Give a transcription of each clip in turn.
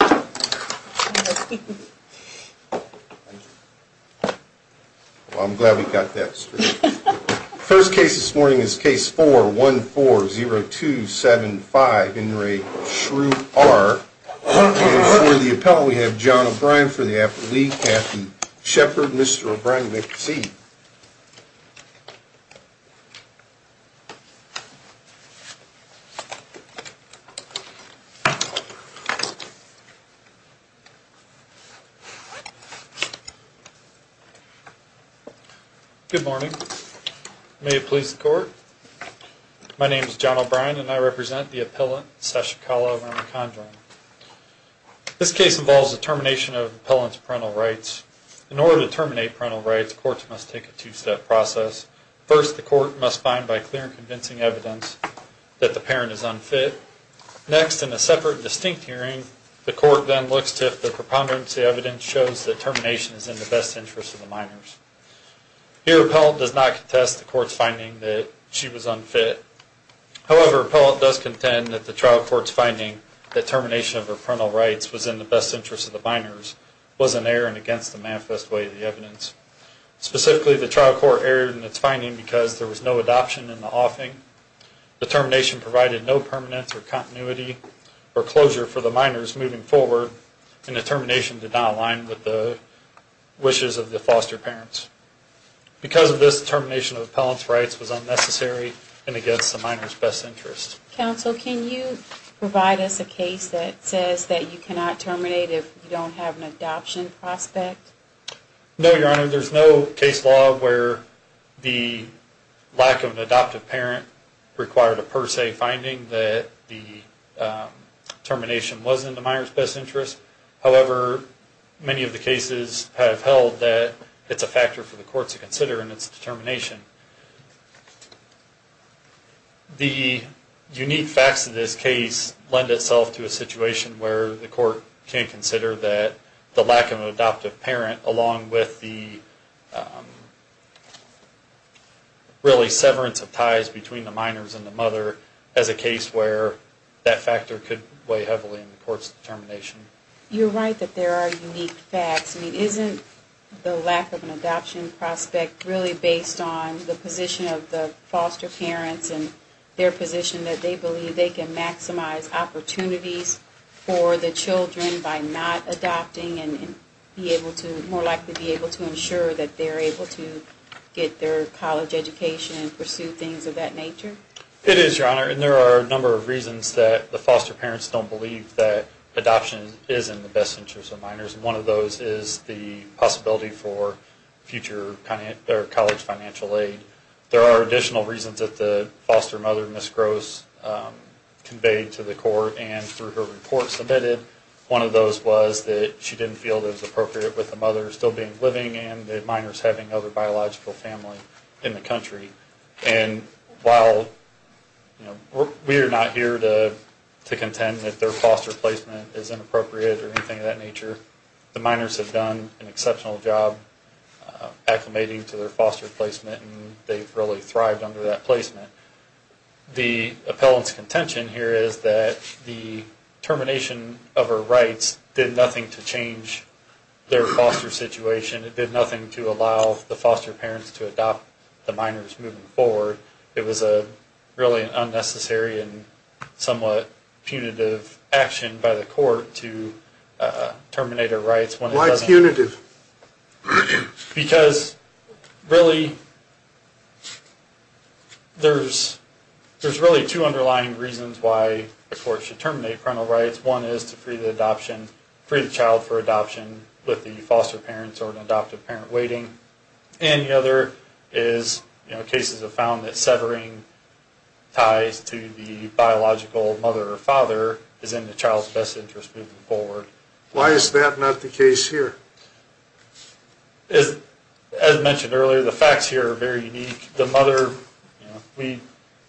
I'm glad we've got this first case this morning is case 4 1 4 0 2 7 5 in re Shru R for the appellate. We have John O'Brien for the after the captain Shepard. Mr. O'Brien make the seat. I'm glad we have this first case this morning is case 4 2 0 2 7 5 in re Shru R for the appellate. We have John O'Brien for the after the captain Shepard. Mr. O'Brien make the seat. We have John O'Brien for the after the captain Shepard. Mr. O'Brien make the seat. The trial court erred in its finding because there was no adoption in the offing. The termination provided no permanence or continuity or closure for the minors moving forward, and the termination did not align with the wishes of the foster parents. Because of this, termination of appellant's rights was unnecessary and against the minors best interest. Counsel, can you provide us a case that says that you cannot terminate if you don't have an adoption prospect? No, Your Honor. There's no case law where the lack of an adoptive parent required a per se finding that the termination wasn't in the minors best interest. However, many of the cases have held that it's a factor for the court to consider in its determination. The unique facts of this case lend itself to a situation where the court can consider that the lack of an adoptive parent along with the really severance of ties between the minors and the mother as a case where that factor could weigh heavily in the court's determination. You're right that there are unique facts. I mean, isn't the lack of an adoption prospect really based on the position of the foster parents and their position that they believe they can maximize opportunities for the children by not adopting and be able to, more likely be able to ensure that they're able to get their college education and pursue things of that nature? It is, Your Honor, and there are a number of reasons that the foster parents don't believe that adoption is in the best interest of minors. One of those is the possibility for future college financial aid. There are additional reasons that the foster mother, Ms. Gross, conveyed to the court and through her report submitted. One of those was that she didn't feel it was appropriate with the mother still being living and the minors having other biological family in the country. And while we are not here to contend that their foster placement is inappropriate or anything of that nature, the minors have done an exceptional job acclimating to their foster placement and they've really thrived under that placement. The appellant's contention here is that the termination of her rights did nothing to change their foster situation. It did nothing to allow the foster parents to adopt the minors moving forward. It was really an unnecessary and somewhat punitive action by the court to terminate her rights. Why punitive? Because really, there's really two underlying reasons why the court should terminate parental rights. One is to free the adoption, free the child for adoption with the foster parents or an adoptive parent waiting. And the other is, you know, cases have found that severing ties to the biological mother or father is in the child's best interest moving forward. Why is that not the case here? As mentioned earlier, the facts here are very unique. The mother, you know, we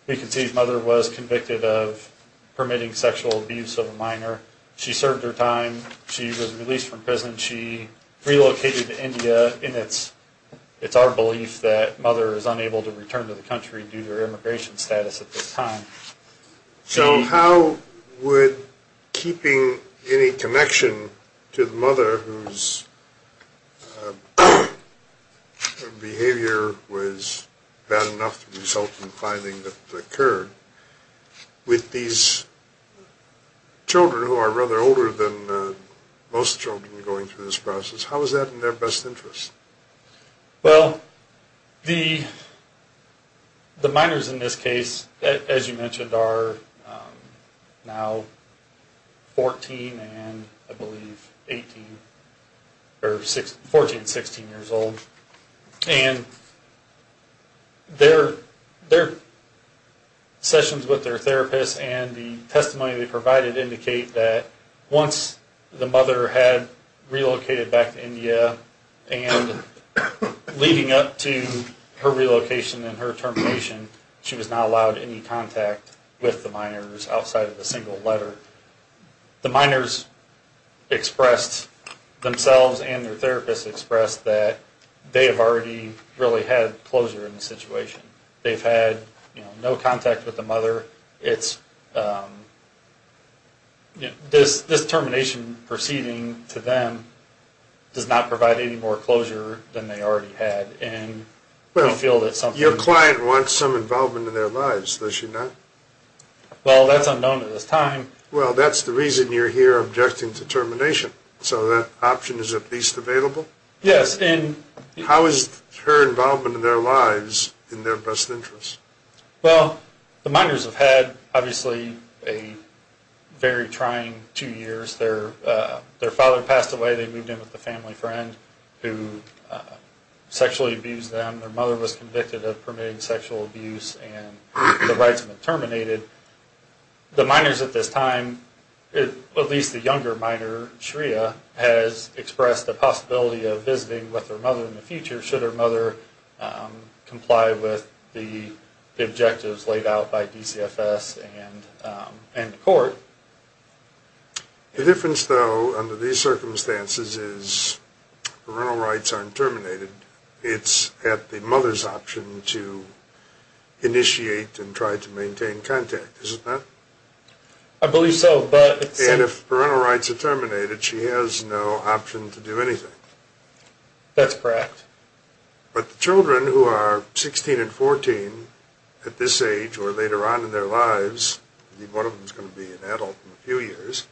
can see the mother was convicted of permitting sexual abuse of a minor. She served her time. She was released from prison. She relocated to India and it's our belief that mother is unable to return to the country due to her immigration status at this time. So how would keeping any connection to the mother whose behavior was bad enough to result in the finding that occurred with these children who are rather older than most children going through this process, how is that in their best interest? Well, the minors in this case, as you mentioned, are now 14 and I believe 18 or 14, 16 years old. And their sessions with their therapist and the testimony they provided indicate that once the mother had relocated back to India and leading up to her relocation and her termination, she was not allowed any contact with the minors outside of a single letter. The minors expressed themselves and their therapist expressed that they have already really had closure in the situation. They've had no contact with the mother. This termination proceeding to them does not provide any more closure than they already had. Your client wants some involvement in their lives, does she not? Well, that's unknown at this time. Well, that's the reason you're here objecting to termination. So that option is at least available? Yes. How is her involvement in their lives in their best interest? Well, the minors have had, obviously, a very trying two years. Their father passed away. They moved in with a family friend who sexually abused them. Their mother was convicted of permitting sexual abuse and the rights have been terminated. The minors at this time, at least the younger minor, Shreya, has expressed the possibility of visiting with her mother in the future should her mother comply with the objectives laid out by DCFS and the court. The difference, though, under these circumstances is parental rights aren't terminated. It's at the mother's option to initiate and try to maintain contact, is it not? I believe so. And if parental rights are terminated, she has no option to do anything. That's correct. But the children who are 16 and 14 at this age or later on in their lives, I believe one of them is going to be an adult in a few years,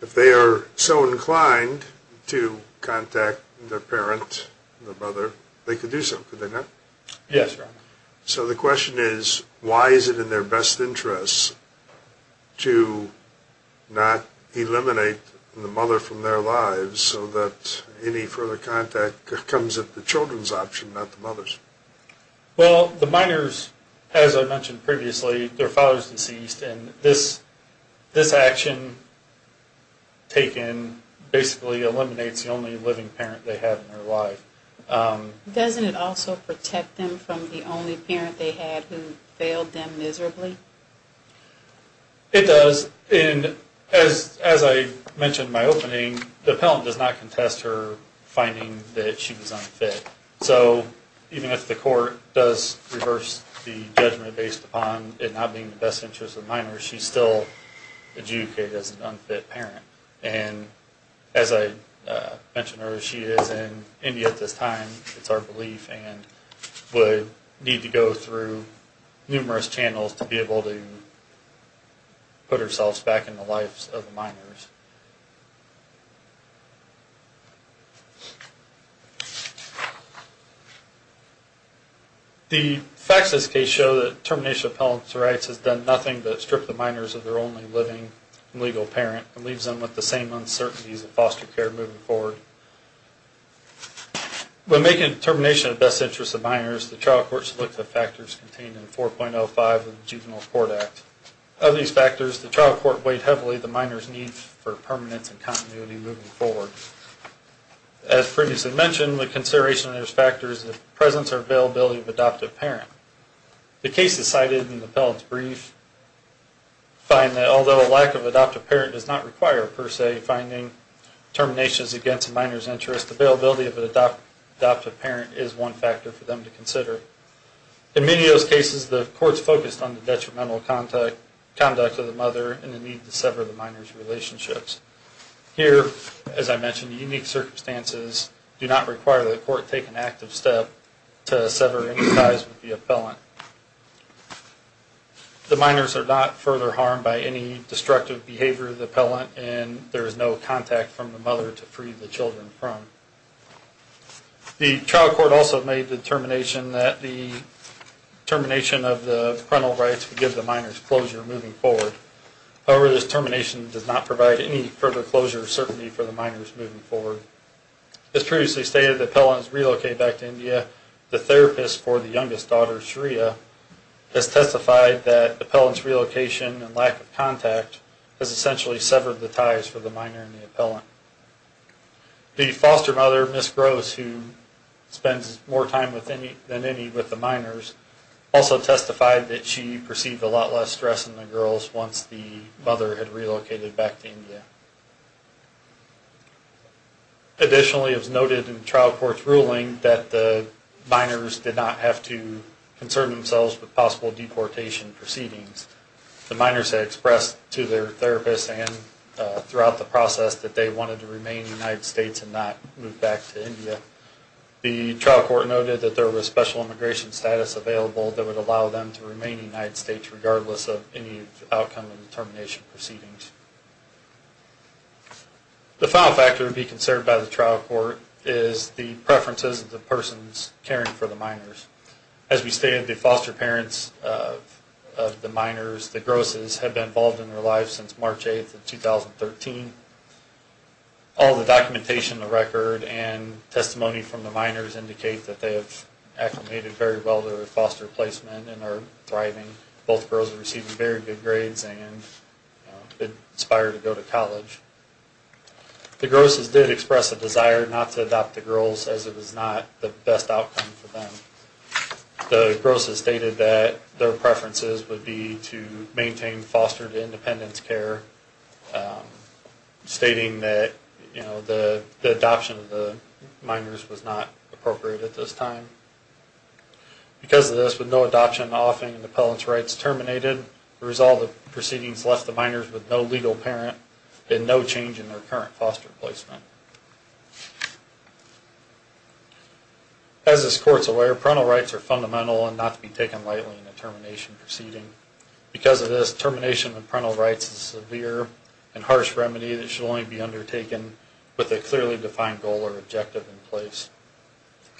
if they are so inclined to contact their parent, their mother, they could do so, could they not? Yes. So the question is, why is it in their best interest to not eliminate the mother from their lives so that any further contact comes at the children's option, not the mother's? Well, the minors, as I mentioned previously, their father is deceased and this action taken basically eliminates the only living parent they have in their life. Doesn't it also protect them from the only parent they had who failed them miserably? It does. And as I mentioned in my opening, the appellant does not contest her finding that she was unfit. So even if the court does reverse the judgment based upon it not being in the best interest of minors, she's still adjudicated as an unfit parent. And as I mentioned earlier, she is in India at this time, it's our belief, and would need to go through numerous channels to be able to put herself back in the lives of the minors. The facts of this case show that termination of appellant's rights has done nothing but strip the minors of their only living legal parent and leaves them with the same uncertainties of foster care moving forward. When making a determination of best interest of minors, the trial court should look at the factors contained in 4.05 of the Juvenile Court Act. Of these factors, the trial court weighed heavily the minors' need for permanence and continuity moving forward. As previously mentioned, the consideration of those factors is the presence or availability of adoptive parent. The cases cited in the appellant's brief find that although a lack of adoptive parent does not require, per se, finding terminations against a minor's interest, availability of an adoptive parent is one factor for them to consider. In many of those cases, the courts focused on the detrimental conduct of the mother and the need to sever the minor's relationships. Here, as I mentioned, unique circumstances do not require the court to take an active step to sever any ties with the appellant. The minors are not further harmed by any destructive behavior of the appellant and there is no contact from the mother to free the children from. The trial court also made the determination that the termination of the parental rights would give the minors closure moving forward. However, this termination does not provide any further closure or certainty for the minors moving forward. As previously stated, the appellant is relocated back to India. The therapist for the youngest daughter, Shreya, has testified that the appellant's relocation and lack of contact has essentially severed the ties for the minor and the appellant. The foster mother, Ms. Grose, who spends more time than any with the minors, also testified that she perceived a lot less stress in the girls once the mother had relocated back to India. Additionally, it was noted in the trial court's ruling that the minors did not have to concern themselves with possible deportation proceedings. The minors had expressed to their therapist and throughout the process that they wanted to remain in the United States and not move back to India. The trial court noted that there was special immigration status available that would allow them to remain in the United States regardless of any outcome of the termination proceedings. The final factor to be concerned by the trial court is the preferences of the persons caring for the minors. As we stated, the foster parents of the minors, the Groses, have been involved in their lives since March 8, 2013. All the documentation, the record, and testimony from the minors indicate that they have acclimated very well to their foster placement and are thriving. Both girls are receiving very good grades and have been inspired to go to college. The Groses did express a desire not to adopt the girls as it was not the best outcome for them. The Groses stated that their preferences would be to maintain foster to independence care, stating that the adoption of the minors was not appropriate at this time. Because of this, with no adoption and offing, the appellant's rights terminated. The result of the proceedings left the minors with no legal parent and no change in their current foster placement. As this court is aware, parental rights are fundamental and not to be taken lightly in a termination proceeding. Because of this, termination of parental rights is a severe and harsh remedy that should only be undertaken with a clearly defined goal or objective in place.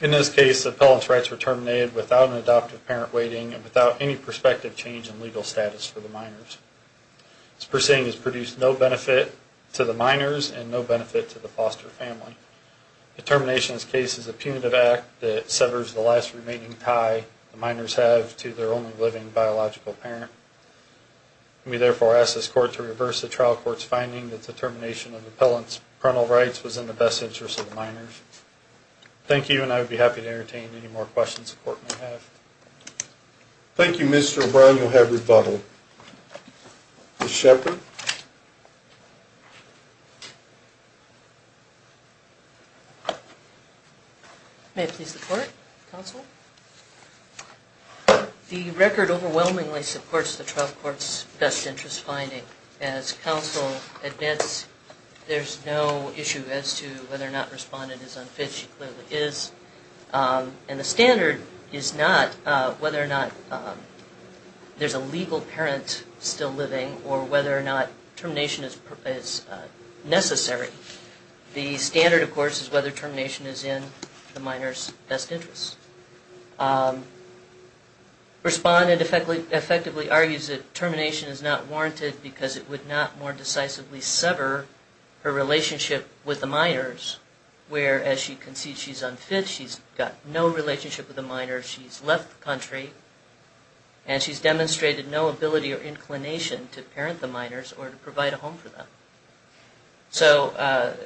In this case, the appellant's rights were terminated without an adoptive parent waiting and without any prospective change in legal status for the minors. This proceeding has produced no benefit to the minors and no benefit to the foster family. The termination case is a punitive act that severs the last remaining tie the minors have to their only living biological parent. We therefore ask this court to reverse the trial court's finding that the termination of the appellant's parental rights was in the best interest of the minors. Thank you, and I would be happy to entertain any more questions the court may have. Thank you, Mr. O'Brien. You'll have rebuttal. Ms. Shepherd? May I please report, counsel? The record overwhelmingly supports the trial court's best interest finding. As counsel admits, there's no issue as to whether or not Respondent is unfit. She clearly is. And the standard is not whether or not there's a legal parent still living or whether or not termination is necessary. The standard, of course, is whether termination is in the minor's best interest. Respondent effectively argues that termination is not warranted because it would not more decisively sever her relationship with the minors, where, as she concedes she's unfit, she's got no relationship with the minors, she's left the country, and she's demonstrated no ability or inclination to parent the minors or to provide a home for them. So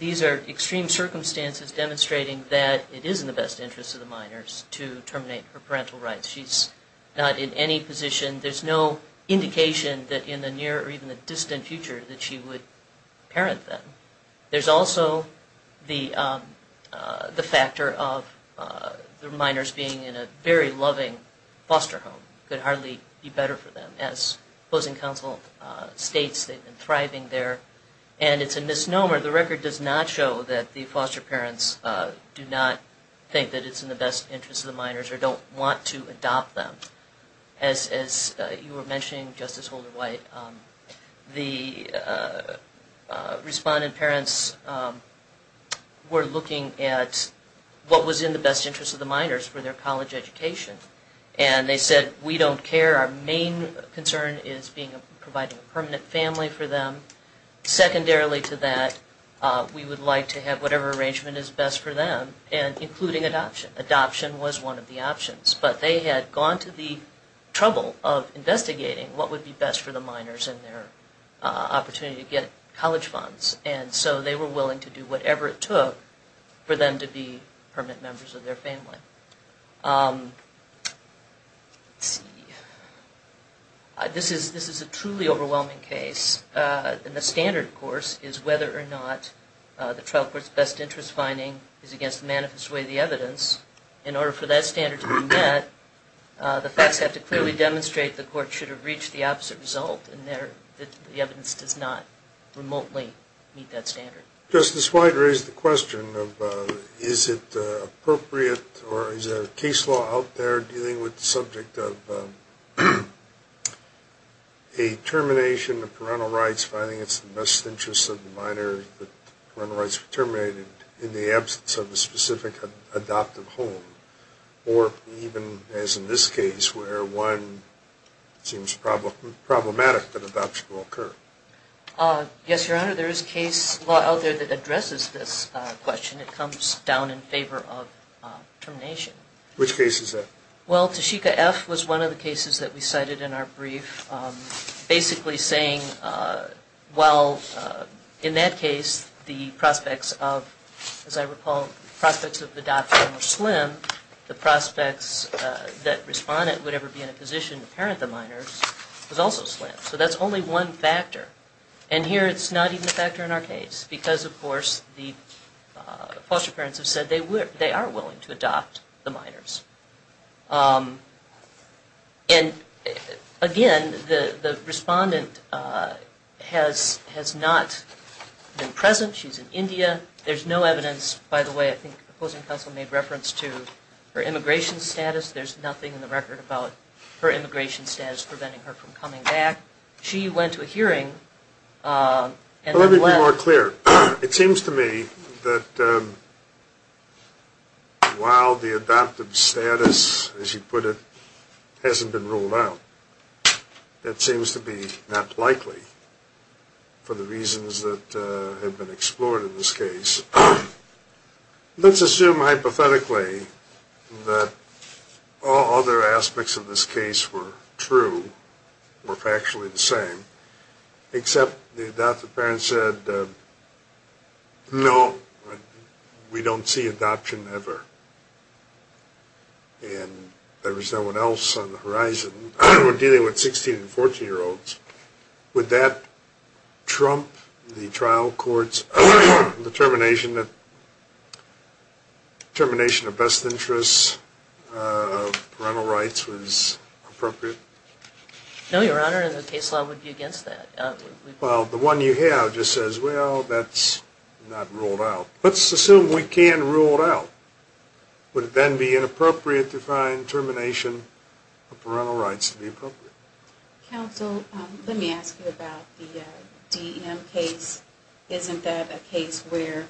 these are extreme circumstances demonstrating that it is in the best interest of the minors to terminate her parental rights. She's not in any position, there's no indication that in the near or even the distant future that she would parent them. There's also the factor of the minors being in a very loving foster home. It could hardly be better for them. As opposing counsel states, they've been thriving there. And it's a misnomer. The record does not show that the foster parents do not think that it's in the best interest of the minors or don't want to adopt them. As you were mentioning, Justice Holder-White, the Respondent parents were looking at what was in the best interest of the minors for their college education. And they said, we don't care. Our main concern is providing a permanent family for them. Secondarily to that, we would like to have whatever arrangement is best for them, including adoption. Adoption was one of the options, but they had gone to the trouble of investigating what would be best for the minors and their opportunity to get college funds. And so they were willing to do whatever it took for them to be permanent members of their family. Let's see. This is a truly overwhelming case. And the standard, of course, is whether or not the trial court's best interest finding is against the manifest way of the evidence. In order for that standard to be met, the facts have to clearly demonstrate the court should have reached the opposite result and the evidence does not remotely meet that standard. Justice White raised the question of is it appropriate or is there a case law out there dealing with the subject of a termination of parental rights finding it's in the best interest of the minor that parental rights were terminated in the absence of a specific adoptive home? Or even, as in this case, where one seems problematic that adoption will occur? Yes, Your Honor, there is case law out there that addresses this question. It comes down in favor of termination. Which case is that? Well, Tashika F. was one of the cases that we cited in our brief, basically saying, well, in that case, the prospects of, as I recall, prospects of adoption were slim. The prospects that respondent would ever be in a position to parent the minors was also slim. So that's only one factor. And here it's not even a factor in our case because, of course, the foster parents have said they are willing to adopt the minors. And, again, the respondent has not been present. She's in India. There's no evidence, by the way, I think the opposing counsel made reference to her immigration status. There's nothing in the record about her immigration status preventing her from coming back. She went to a hearing. Well, let me be more clear. It seems to me that while the adoptive status, as you put it, hasn't been ruled out, that seems to be not likely for the reasons that have been explored in this case. Because let's assume hypothetically that all other aspects of this case were true, were factually the same, except the adoptive parents said, no, we don't see adoption ever. And there was no one else on the horizon dealing with 16 and 14-year-olds. Would that trump the trial court's determination that termination of best interests parental rights was appropriate? No, Your Honor, and the case law would be against that. Well, the one you have just says, well, that's not ruled out. Let's assume we can rule it out. Would it then be inappropriate to find termination of parental rights to be appropriate? Counsel, let me ask you about the DEM case. Isn't that a case where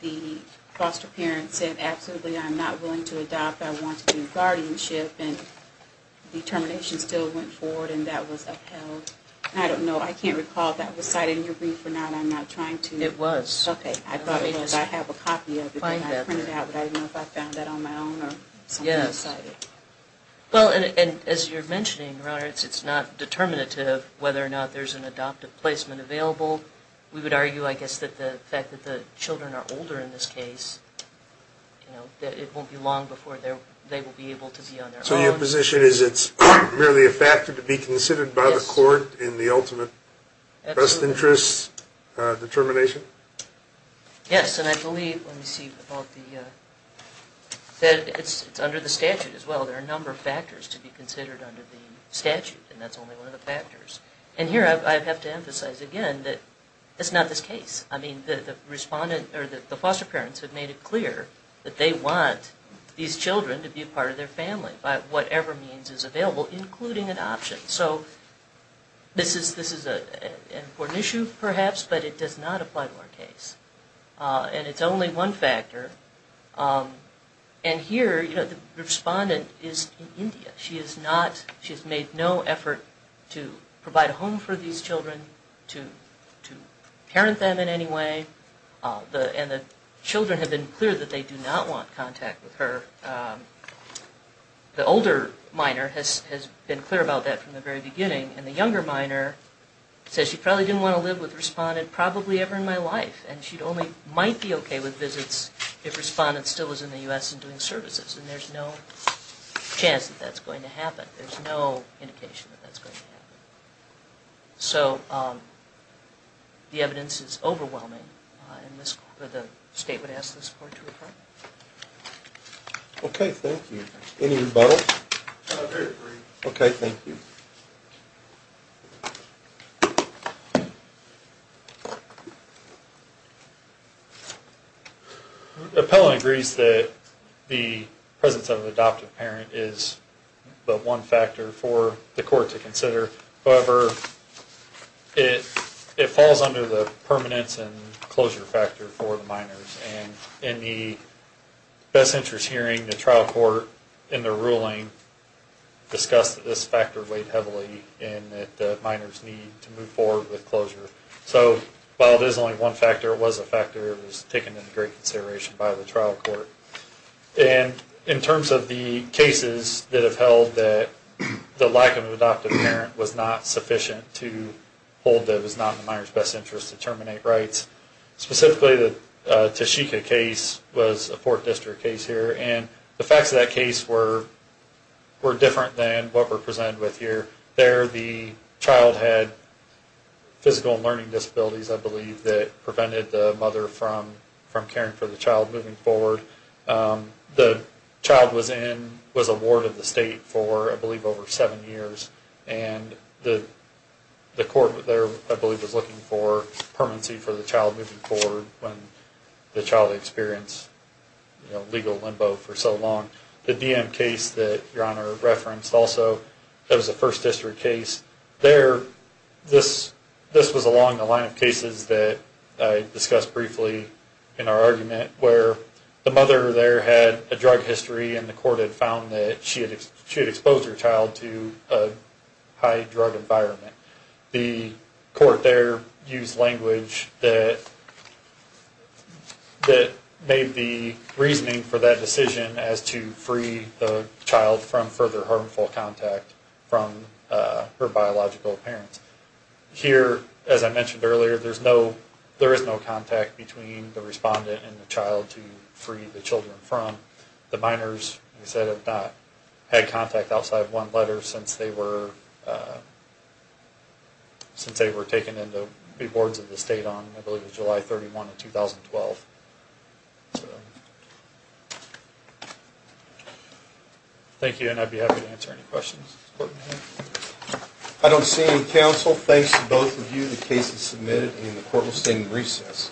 the foster parents said, absolutely, I'm not willing to adopt, I want to do guardianship, and the termination still went forward and that was upheld? I don't know. I can't recall if that was cited in your brief or not. I'm not trying to… It was. Okay. I have a copy of it and I printed it out, but I don't know if I found that on my own or something was cited. Well, and as you're mentioning, Your Honor, it's not determinative whether or not there's an adoptive placement available. We would argue, I guess, that the fact that the children are older in this case, that it won't be long before they will be able to be on their own. So your position is it's merely a factor to be considered by the court in the ultimate best interests determination? Yes, and I believe, let me see, it's under the statute as well. There are a number of factors to be considered under the statute and that's only one of the factors. And here I have to emphasize again that it's not this case. I mean, the foster parents have made it clear that they want these children to be a part of their family by whatever means is available, including adoption. So this is an important issue, perhaps, but it does not apply to our case. And it's only one factor. And here, the respondent is in India. She has made no effort to provide a home for these children, to parent them in any way. And the children have been clear that they do not want contact with her. The older minor has been clear about that from the very beginning. And the younger minor says she probably didn't want to live with the respondent probably ever in my life. And she only might be okay with visits if the respondent still was in the U.S. and doing services. And there's no chance that that's going to happen. There's no indication that that's going to happen. So the evidence is overwhelming and the state would ask the court to report. Okay, thank you. Any rebuttal? I agree. Okay, thank you. Appellant agrees that the presence of an adoptive parent is the one factor for the court to consider. However, it falls under the permanence and closure factor for the minors. And in the best interest hearing, the trial court in the ruling discussed that this factor weighed heavily and that minors need to move forward with closure. So while it is only one factor, it was a factor that was taken into great consideration by the trial court. And in terms of the cases that have held that the lack of an adoptive parent was not sufficient to hold that it was not in the minor's best interest to terminate rights, specifically the Toshika case was a 4th District case here, and the facts of that case were different than what were presented with here. There, the child had physical and learning disabilities, I believe, that prevented the mother from caring for the child moving forward. The child was in, was a ward of the state for, I believe, over 7 years. And the court there, I believe, was looking for permanency for the child moving forward when the child experienced legal limbo for so long. The DM case that Your Honor referenced also, that was a 1st District case. There, this was along the line of cases that I discussed briefly in our argument where the mother there had a drug history and the court had found that she had exposed her child to a high drug environment. The court there used language that made the reasoning for that decision as to free the child from further harmful contact from her biological parents. Here, as I mentioned earlier, there is no contact between the respondent and the child to free the children from. The minors, as I said, have not had contact outside one letter since they were taken in to be boards of the state on, I believe, July 31, 2012. Thank you, and I'd be happy to answer any questions. I don't see any counsel. Thanks to both of you, the case is submitted, and the court will stand in recess.